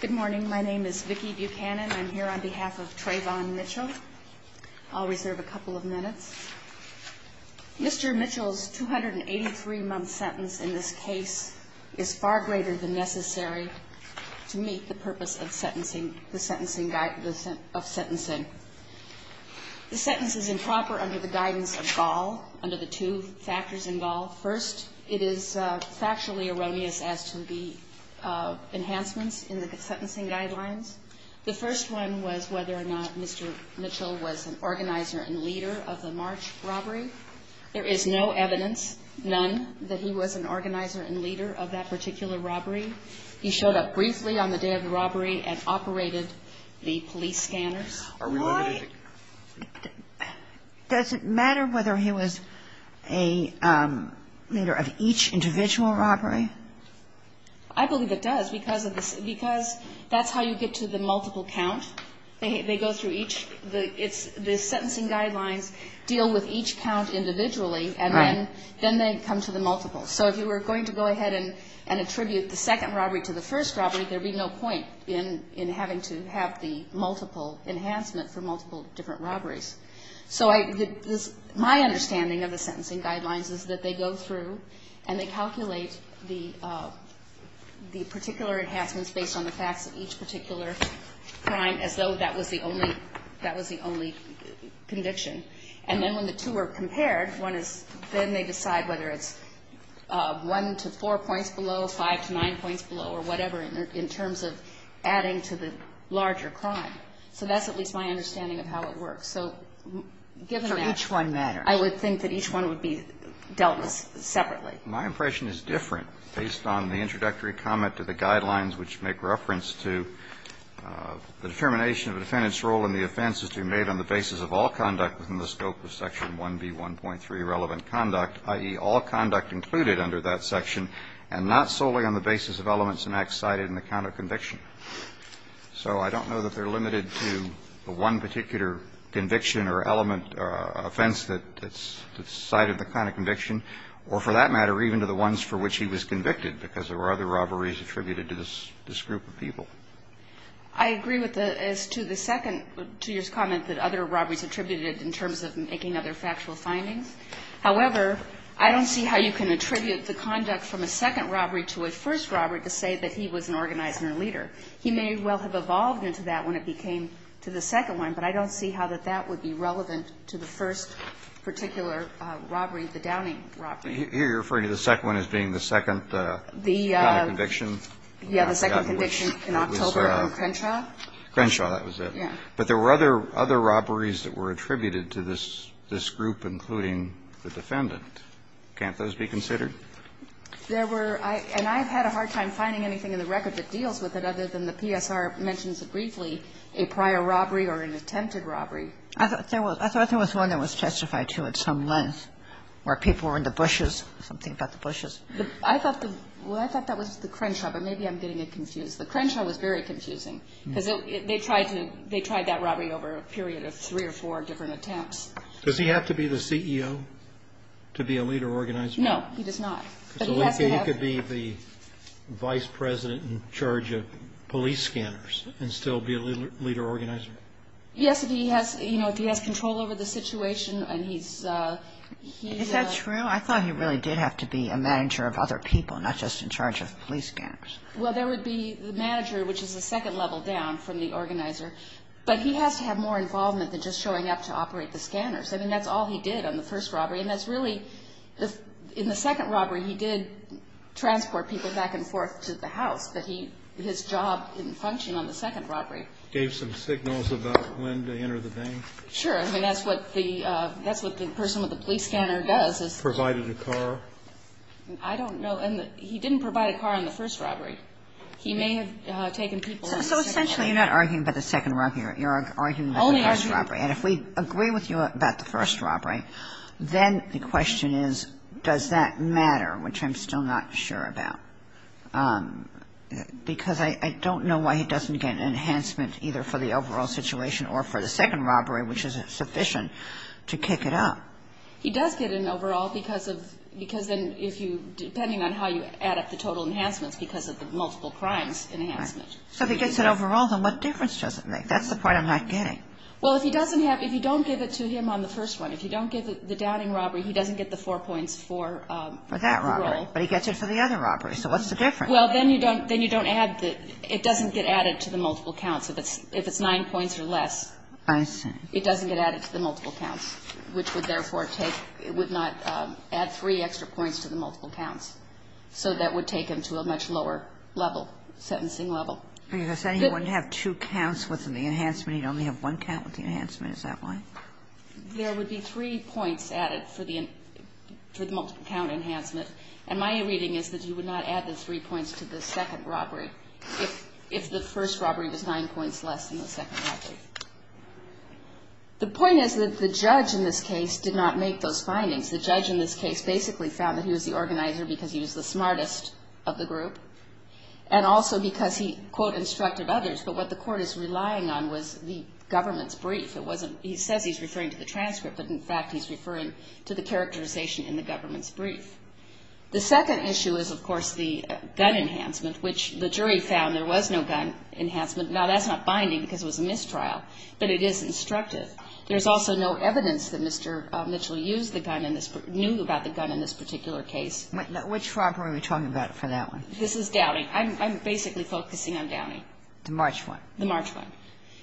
Good morning. My name is Vicki Buchanan. I'm here on behalf of Trayvon Mitchell. I'll reserve a couple of minutes. Mr. Mitchell's 283-month sentence in this case is far greater than necessary to meet the purpose of sentencing the sentencing of sentencing. The sentence is improper under the guidance of Gaul, under the two factors in Gaul. First, it is factually erroneous as to the enhancements in the sentencing guidelines. The first one was whether or not Mr. Mitchell was an organizer and leader of the March robbery. There is no evidence, none, that he was an organizer and leader of that particular robbery. He showed up briefly on the day of the robbery and operated the police scanners. Are we limited? Does it matter whether he was a leader of each individual robbery? I believe it does, because that's how you get to the multiple count. They go through each. The sentencing guidelines deal with each count individually, and then they come to the multiples. So if you were going to go ahead and attribute the second robbery to the first robbery, there would be no point in having to have the multiple enhancement for multiple different robberies. So my understanding of the sentencing guidelines is that they go through and they calculate the particular enhancements based on the facts of each particular crime as though that was the only conviction. And then when the two are compared, one is then they decide whether it's one to four points below, five to nine points below, or whatever, in terms of adding to the larger crime. So that's at least my understanding of how it works. So given that, I would think that each one would be dealt with separately. My impression is different based on the introductory comment to the guidelines which make reference to the determination of a defendant's role in the offense as to be made on the basis of all conduct within the scope of Section 1B1.3 relevant conduct, i.e., all conduct included under that section, and not solely on the basis of elements and acts cited in the count of conviction. So I don't know that they're limited to the one particular conviction or element offense that's cited in the count of conviction, or for that matter, even to the ones for which he was convicted because there were other robberies attributed to this group of people. I agree with the as to the second, to your comment that other robberies attributed in terms of making other factual findings. However, I don't see how you can attribute the conduct from a second robbery to a first robbery to say that he was an organizer or leader. He may well have evolved into that when it became to the second one, but I don't see how that that would be relevant to the first particular robbery, the Downing robbery. Here you're referring to the second one as being the second count of conviction? Yeah, the second conviction in October on Crenshaw. Crenshaw, that was it. Yeah. But there were other robberies that were attributed to this group, including the defendant. Can't those be considered? There were. And I've had a hard time finding anything in the record that deals with it other than the PSR mentions it briefly, a prior robbery or an attempted robbery. I thought there was one that was testified to at some length where people were in the bushes, something about the bushes. I thought the – well, I thought that was the Crenshaw, but maybe I'm getting it confused. The Crenshaw was very confusing because they tried to – they tried that robbery over a period of three or four different attempts. Does he have to be the CEO to be a leader organizer? No, he does not. But he has to have – So he could be the vice president in charge of police scanners and still be a leader organizer? Yes, if he has – you know, if he has control over the situation and he's – Is that true? I thought he really did have to be a manager of other people, not just in charge of police scanners. Well, there would be the manager, which is a second level down from the organizer. But he has to have more involvement than just showing up to operate the scanners. I mean, that's all he did on the first robbery. And that's really – in the second robbery, he did transport people back and forth to the house. But he – his job didn't function on the second robbery. Gave some signals about when to enter the vein? Sure. I mean, that's what the – that's what the person with the police scanner does is – Provided a car? I don't know. And he didn't provide a car on the first robbery. He may have taken people on the second robbery. So essentially you're not arguing about the second robbery. You're arguing about the first robbery. Only arguing. And if we agree with you about the first robbery, then the question is, does that matter, which I'm still not sure about, because I don't know why he doesn't get an enhancement either for the overall situation or for the second robbery, which is sufficient to kick it up. He does get an overall because of – because then if you – depending on how you add up the total enhancements because of the multiple crimes enhancement. So if he gets an overall, then what difference does it make? That's the point I'm not getting. Well, if he doesn't have – if you don't give it to him on the first one, if you don't give the downing robbery, he doesn't get the four points for the role. For that robbery. But he gets it for the other robbery. So what's the difference? Well, then you don't – then you don't add the – it doesn't get added to the multiple counts if it's nine points or less. I see. It doesn't get added to the multiple counts, which would therefore take – it would not add three extra points to the multiple counts. So that would take him to a much lower level, sentencing level. Are you saying he wouldn't have two counts with the enhancement? He'd only have one count with the enhancement? Is that why? There would be three points added for the – for the multiple count enhancement. And my reading is that you would not add the three points to the second robbery if the first robbery was nine points less than the second robbery. The point is that the judge in this case did not make those findings. The judge in this case basically found that he was the organizer because he was the smartest of the group and also because he, quote, instructed others. But what the court is relying on was the government's brief. It wasn't – he says he's referring to the transcript, but in fact he's referring to the characterization in the government's brief. The second issue is, of course, the gun enhancement, which the jury found there was no gun enhancement. Now, that's not binding because it was a mistrial, but it is instructive. There's also no evidence that Mr. Mitchell used the gun in this – knew about the gun in this particular case. Which robbery are we talking about for that one? This is Downing. I'm basically focusing on Downing. The March one? The March one.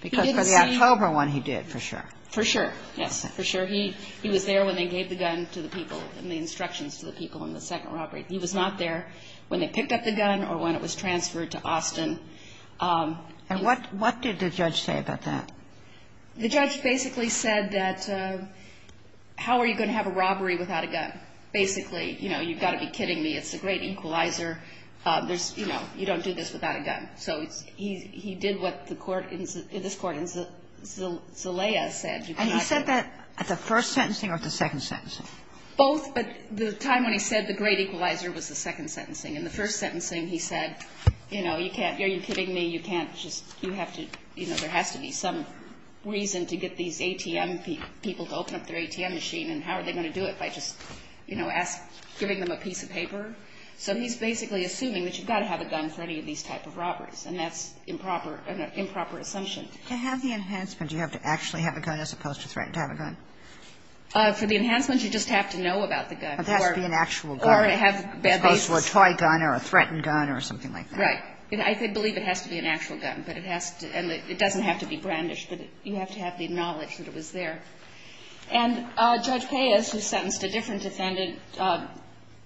Because for the October one he did, for sure. For sure, yes. For sure. He was there when they gave the gun to the people and the instructions to the people in the second robbery. He was not there when they picked up the gun or when it was transferred to Austin. And what did the judge say about that? The judge basically said that, how are you going to have a robbery without a gun? Basically, you know, you've got to be kidding me. It's a great equalizer. There's, you know, you don't do this without a gun. So he did what the court in this court in Zelaya said. And he said that at the first sentencing or at the second sentencing? Both, but the time when he said the great equalizer was the second sentencing. And the first sentencing he said, you know, you can't, are you kidding me, you can't just, you have to, you know, there has to be some reason to get these ATM people to open up their ATM machine, and how are they going to do it if I just, you know, ask, giving them a piece of paper? So he's basically assuming that you've got to have a gun for any of these type of robberies, and that's improper, an improper assumption. To have the enhancement, do you have to actually have a gun as opposed to threatened to have a gun? For the enhancements, you just have to know about the gun. Or it has to be an actual gun. Or it has to have basis. Sotomayor, opposed to a toy gun or a threatened gun or something like that. Right. I believe it has to be an actual gun, but it has to, and it doesn't have to be brandished, but you have to have the knowledge that it was there. And Judge Paez, who sentenced a different defendant,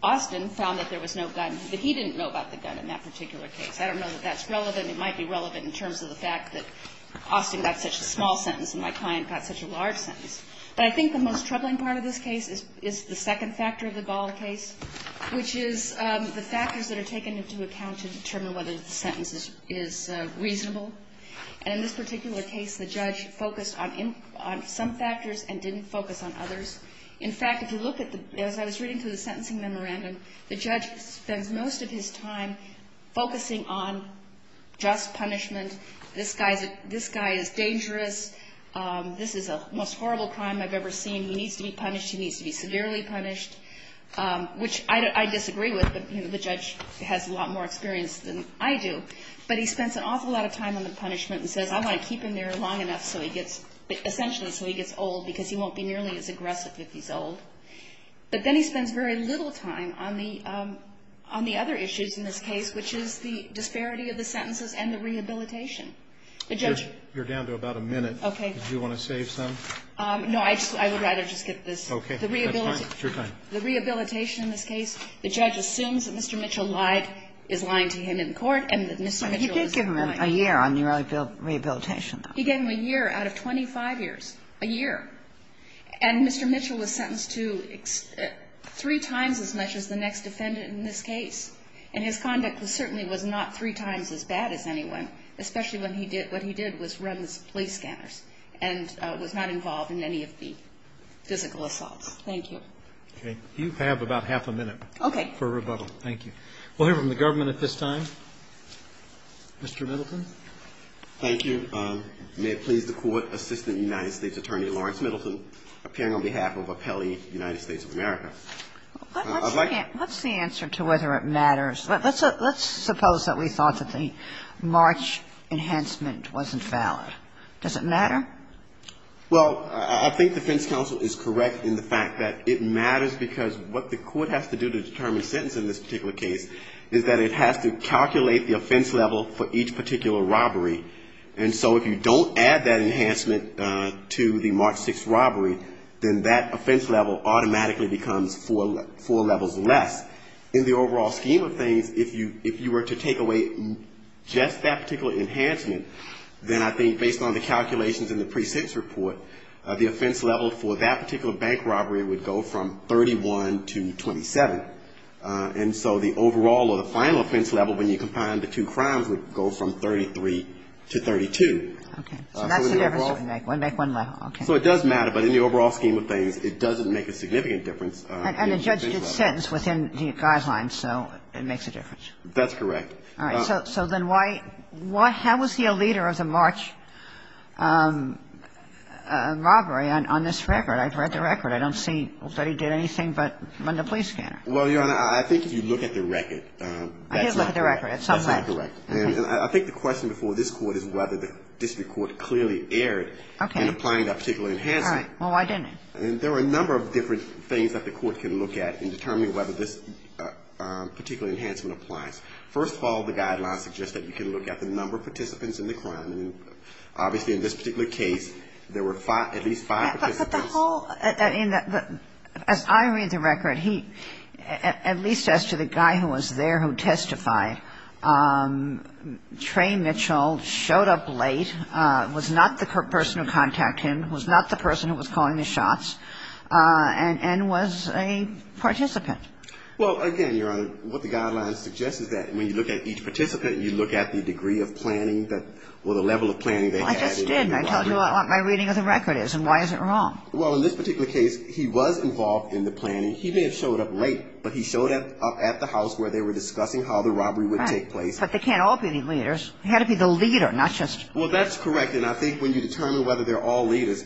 Austin, found that there was no gun, that he didn't know about the gun in that particular case. I don't know that that's relevant. It might be relevant in terms of the fact that Austin got such a small sentence and my client got such a large sentence. But I think the most troubling part of this case is the second factor of the Gall case, which is the factors that are taken into account to determine whether the sentence is reasonable. And in this particular case, the judge focused on some factors and didn't focus on others. In fact, if you look at the, as I was reading through the sentencing memorandum, the judge spends most of his time focusing on just punishment. This guy is dangerous. This is the most horrible crime I've ever seen. He needs to be punished. He needs to be severely punished, which I disagree with. The judge has a lot more experience than I do. But he spends an awful lot of time on the punishment and says, I want to keep him there long enough so he gets, essentially so he gets old because he won't be nearly as aggressive if he's old. But then he spends very little time on the other issues in this case, which is the disparity of the sentences and the rehabilitation. The judge. You're down to about a minute. Okay. Do you want to save some? No. I would rather just get this. Okay. That's fine. It's your time. The rehabilitation in this case, the judge assumes that Mr. Mitchell lied, is lying to him in court, and that Mr. Mitchell is lying. He did give him a year on the rehabilitation, though. He gave him a year out of 25 years. A year. And Mr. Mitchell was sentenced to three times as much as the next defendant in this case. And his conduct certainly was not three times as bad as anyone, especially when he did, what he did was run the police scanners and was not involved in any of the physical assaults. Thank you. Okay. You have about half a minute. Okay. For rebuttal. Thank you. We'll hear from the government at this time. Mr. Middleton. Thank you. appearing on behalf of Appellee United States of America. What's the answer to whether it matters? Let's suppose that we thought that the March enhancement wasn't valid. Does it matter? Well, I think defense counsel is correct in the fact that it matters because what the court has to do to determine a sentence in this particular case is that it has to calculate the offense level for each particular robbery. And so if you don't add that enhancement to the March 6th robbery, then that offense level automatically becomes four levels less. In the overall scheme of things, if you were to take away just that particular enhancement, then I think based on the calculations in the pre-6 report, the offense level for that particular bank robbery would go from 31 to 27. And so the overall or the final offense level when you combine the two crimes would go from 33 to 32. Okay. So that's the difference between bank one, bank one level. Okay. So it does matter, but in the overall scheme of things, it doesn't make a significant difference. And the judge did sentence within the guidelines, so it makes a difference. That's correct. All right. So then why – how is he a leader of the March robbery on this record? I've read the record. I don't see that he did anything but run the police scanner. Well, Your Honor, I think if you look at the record, that's not correct. I did look at the record at some point. That's not correct. And I think the question before this Court is whether the district court clearly erred in applying that particular enhancement. All right. Well, why didn't it? There are a number of different things that the Court can look at in determining whether this particular enhancement applies. First of all, the guidelines suggest that you can look at the number of participants in the crime. Obviously, in this particular case, there were at least five participants. But the whole – as I read the record, he – at least as to the guy who was there who testified, Trey Mitchell showed up late, was not the person who contacted him, was not the person who was calling the shots, and was a participant. Well, again, Your Honor, what the guidelines suggest is that when you look at each participant, you look at the degree of planning that – or the level of planning they had. Well, I just didn't. I told you what my reading of the record is. And why is it wrong? Well, in this particular case, he was involved in the planning. He may have showed up late, but he showed up at the house where they were discussing how the robbery would take place. Right. But they can't all be the leaders. He had to be the leader, not just – Well, that's correct. And I think when you determine whether they're all leaders,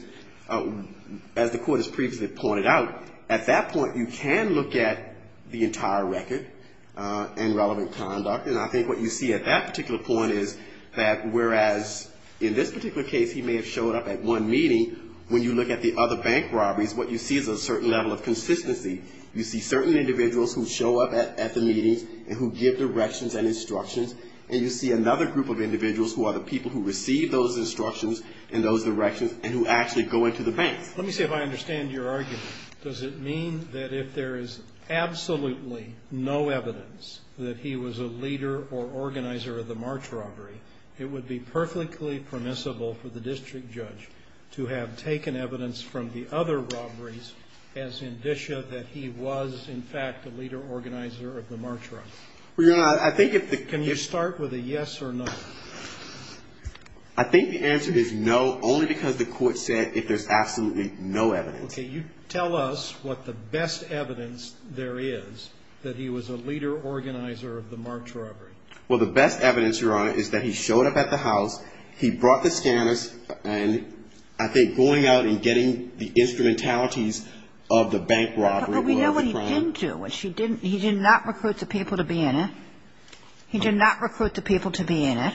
as the Court has previously pointed out, at that point you can look at the entire record and relevant conduct. And I think what you see at that particular point is that whereas in this particular case he may have showed up at one meeting, when you look at the other bank robberies, what you see is a certain level of consistency. You see certain individuals who show up at the meetings and who give directions and instructions, and you see another group of individuals who are the people who receive those instructions and those directions and who actually go into the banks. Let me see if I understand your argument. Does it mean that if there is absolutely no evidence that he was a leader or organizer of the March robbery, it would be perfectly permissible for the district judge to have taken evidence from the other robberies as indicia that he was, in fact, a leader organizer of the March robbery? Well, Your Honor, I think if the – Can you start with a yes or no? I think the answer is no, only because the Court said if there's absolutely no evidence. Okay. You tell us what the best evidence there is that he was a leader organizer of the March robbery. Well, the best evidence, Your Honor, is that he showed up at the house, he brought the instrumentalities of the bank robbery. But we know what he didn't do. He did not recruit the people to be in it. He did not recruit the people to be in it.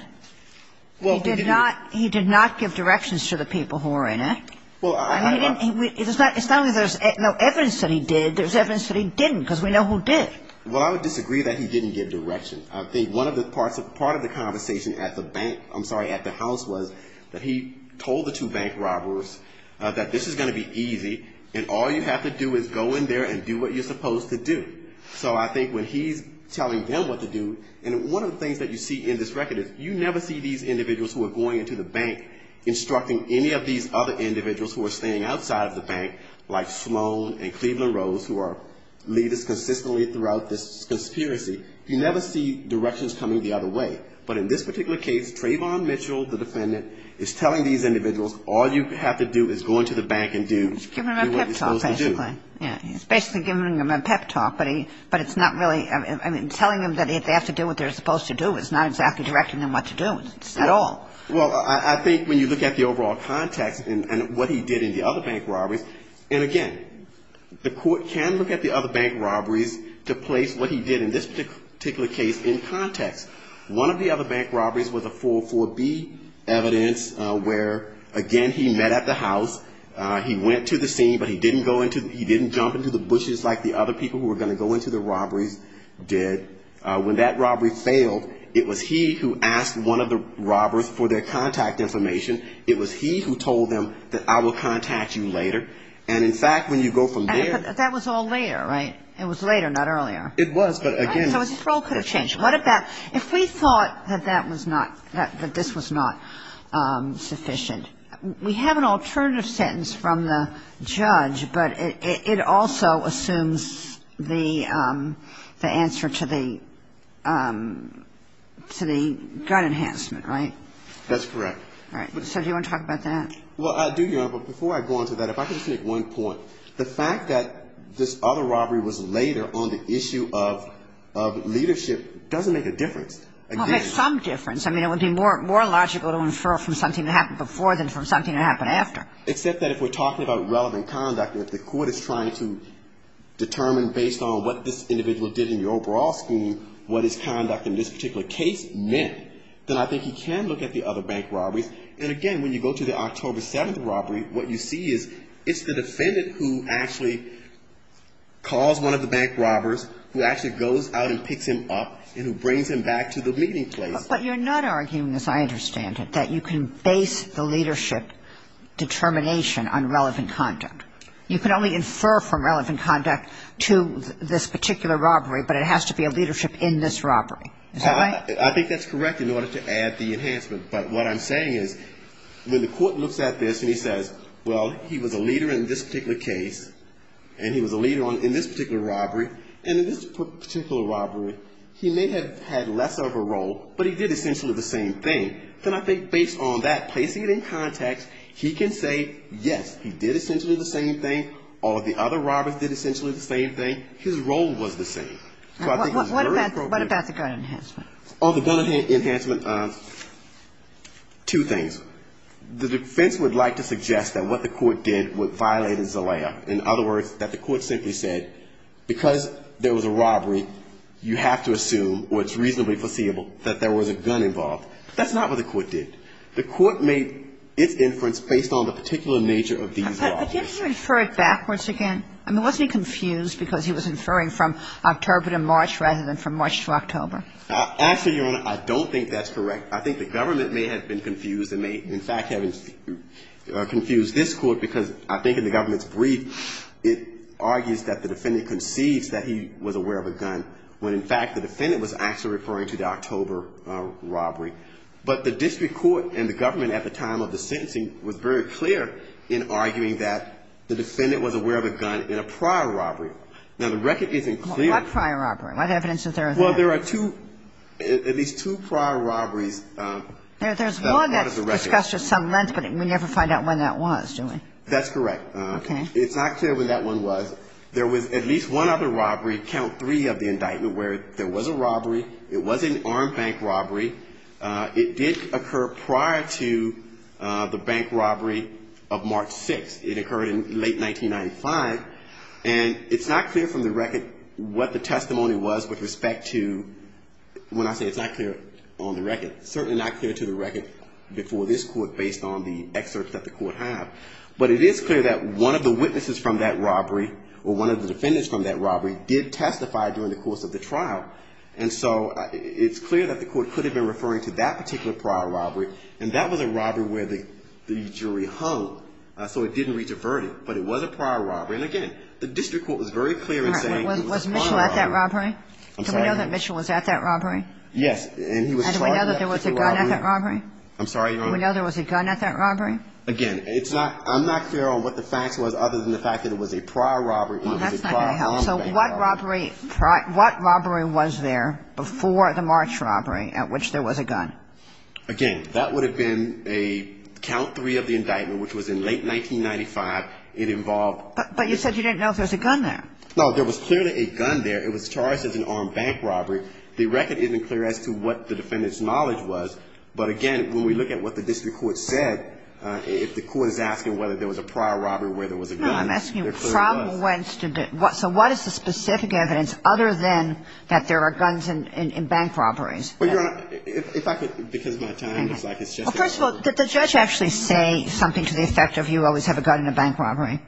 He did not give directions to the people who were in it. It's not that there's no evidence that he did. There's evidence that he didn't, because we know who did. Well, I would disagree that he didn't give directions. I think one of the parts of – part of the conversation at the bank – I'm sorry, at the house was that he told the two bank robbers that this is going to be easy and all you have to do is go in there and do what you're supposed to do. So I think when he's telling them what to do – and one of the things that you see in this record is you never see these individuals who are going into the bank instructing any of these other individuals who are staying outside of the bank, like Sloan and Cleveland Rose, who are leaders consistently throughout this conspiracy. You never see directions coming the other way. But in this particular case, Trayvon Mitchell, the defendant, is telling these individuals all you have to do is go into the bank and do what you're supposed to do. He's giving them a pep talk, basically. He's basically giving them a pep talk, but it's not really – I mean, telling them that they have to do what they're supposed to do is not exactly directing them what to do at all. Well, I think when you look at the overall context and what he did in the other bank robberies – and again, the Court can look at the other bank robberies to place what he did in this particular case in context. One of the other bank robberies was a 404B evidence where, again, he met at the house. He went to the scene, but he didn't go into – he didn't jump into the bushes like the other people who were going to go into the robberies did. When that robbery failed, it was he who asked one of the robbers for their contact information. It was he who told them that I will contact you later. And in fact, when you go from there to... But that was all later, right? It was later, not earlier. It was, but again... So his role could have changed. What about if we thought that that was not – that this was not sufficient? We have an alternative sentence from the judge, but it also assumes the answer to the gun enhancement, right? That's correct. So do you want to talk about that? Well, I do, Your Honor, but before I go on to that, if I could just make one point. So the fact that this other robbery was later on the issue of leadership doesn't make a difference. Well, it makes some difference. I mean, it would be more logical to infer from something that happened before than from something that happened after. Except that if we're talking about relevant conduct, if the court is trying to determine based on what this individual did in the overall scheme, what his conduct in this particular case meant, then I think he can look at the other bank robberies. And, again, when you go to the October 7th robbery, what you see is it's the defendant who actually calls one of the bank robbers, who actually goes out and picks him up, and who brings him back to the meeting place. But you're not arguing, as I understand it, that you can base the leadership determination on relevant conduct. You can only infer from relevant conduct to this particular robbery, but it has to be a leadership in this robbery. Is that right? I think that's correct in order to add the enhancement. But what I'm saying is when the court looks at this and he says, well, he was a leader in this particular case, and he was a leader in this particular robbery, and in this particular robbery, he may have had less of a role, but he did essentially the same thing, then I think based on that, placing it in context, he can say, yes, he did essentially the same thing, or the other robbers did essentially the same thing, his role was the same. So I think it's very appropriate. And what about the gun enhancement? Oh, the gun enhancement, two things. The defense would like to suggest that what the court did violated Zelaya. In other words, that the court simply said because there was a robbery, you have to assume, or it's reasonably foreseeable, that there was a gun involved. That's not what the court did. The court made its inference based on the particular nature of these robberies. But didn't he refer it backwards again? I mean, wasn't he confused because he was inferring from October to March rather than from March to October? Actually, Your Honor, I don't think that's correct. I think the government may have been confused and may in fact have confused this Court because I think in the government's brief, it argues that the defendant conceives that he was aware of a gun when in fact the defendant was actually referring to the October robbery. But the district court and the government at the time of the sentencing was very clear in arguing that the defendant was aware of a gun in a prior robbery. Now, the record isn't clear. What prior robbery? What evidence is there of that? Well, there are two, at least two prior robberies. There's one that's discussed at some length, but we never find out when that was, do we? That's correct. Okay. It's not clear when that one was. There was at least one other robbery, count three of the indictment, where there was a robbery. It was an armed bank robbery. It did occur prior to the bank robbery of March 6th. It occurred in late 1995. And it's not clear from the record what the testimony was with respect to, when I say it's not clear on the record, certainly not clear to the record before this Court based on the excerpts that the Court had. But it is clear that one of the witnesses from that robbery or one of the defendants from that robbery did testify during the course of the trial. And so it's clear that the Court could have been referring to that particular prior robbery, and that was a robbery where the jury hung, so it didn't reach a verdict. But it was a prior robbery. And, again, the district court was very clear in saying it was a prior robbery. Was Mitchell at that robbery? I'm sorry. Do we know that Mitchell was at that robbery? Yes. And he was charged with that particular robbery. And do we know that there was a gun at that robbery? I'm sorry, Your Honor. Do we know there was a gun at that robbery? Again, it's not – I'm not clear on what the facts was other than the fact that it was a prior robbery. Well, that's not going to help. So what robbery – what robbery was there before the March robbery at which there was a gun? Again, that would have been a count three of the indictment, which was in late 1995. It involved – But you said you didn't know if there was a gun there. No. There was clearly a gun there. It was charged as an armed bank robbery. The record isn't clear as to what the defendant's knowledge was. But, again, when we look at what the district court said, if the court is asking whether there was a prior robbery where there was a gun, there clearly was. No. I'm asking trial went to – so what is the specific evidence other than that there are guns in bank robberies? Well, Your Honor, if I could – because of my time, it's like it's just a robbery. First of all, did the judge actually say something to the effect of you always have a gun in a bank robbery?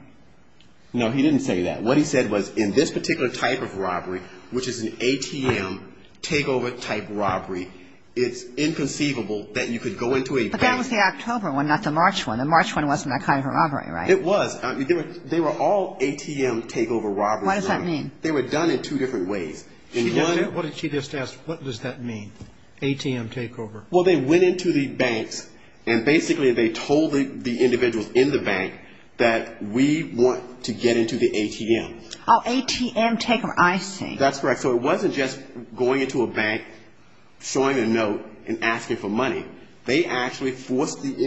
No, he didn't say that. What he said was in this particular type of robbery, which is an ATM takeover type robbery, it's inconceivable that you could go into a bank – But that was the October one, not the March one. The March one wasn't that kind of a robbery, right? It was. They were all ATM takeover robberies. What does that mean? They were done in two different ways. What did she just ask? What does that mean, ATM takeover? Well, they went into the banks and basically they told the individuals in the bank that we want to get into the ATM. Oh, ATM takeover. I see. That's correct. So it wasn't just going into a bank, showing a note, and asking for money. They actually forced the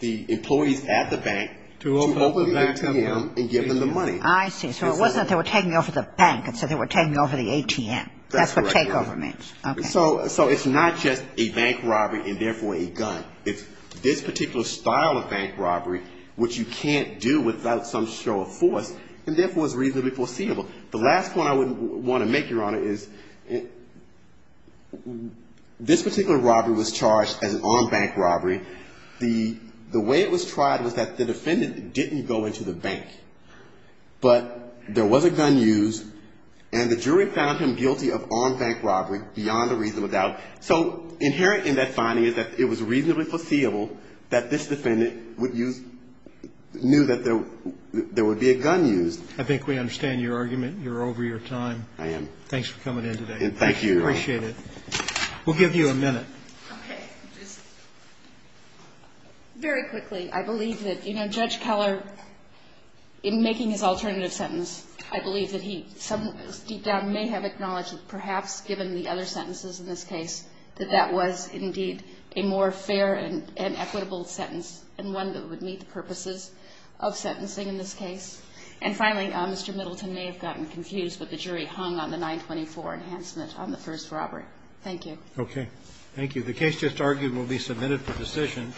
employees at the bank to open the ATM and give them the money. I see. So it wasn't that they were taking over the bank. It said they were taking over the ATM. That's what takeover means. That's correct, Your Honor. Okay. So it's not just a bank robbery and therefore a gun. It's this particular style of bank robbery, which you can't do without some show of force, and therefore is reasonably foreseeable. The last point I would want to make, Your Honor, is this particular robbery was charged as an armed bank robbery. The way it was tried was that the defendant didn't go into the bank, but there was a gun used, and the jury found him guilty of armed bank robbery beyond a reasonable doubt. So inherent in that finding is that it was reasonably foreseeable that this defendant would use ñ knew that there would be a gun used. I think we understand your argument. You're over your time. I am. Thanks for coming in today. And thank you, Your Honor. We appreciate it. We'll give you a minute. Okay. Very quickly, I believe that, you know, Judge Keller, in making his alternative sentence, I believe that he, deep down, may have acknowledged perhaps, given the other sentences in this case, that that was indeed a more fair and equitable sentence and one that would meet the purposes of sentencing in this case. And finally, Mr. Middleton may have gotten confused, but the jury hung on the 924 enhancement on the first robbery. Thank you. Okay. Thank you. The case just argued will be submitted for decision.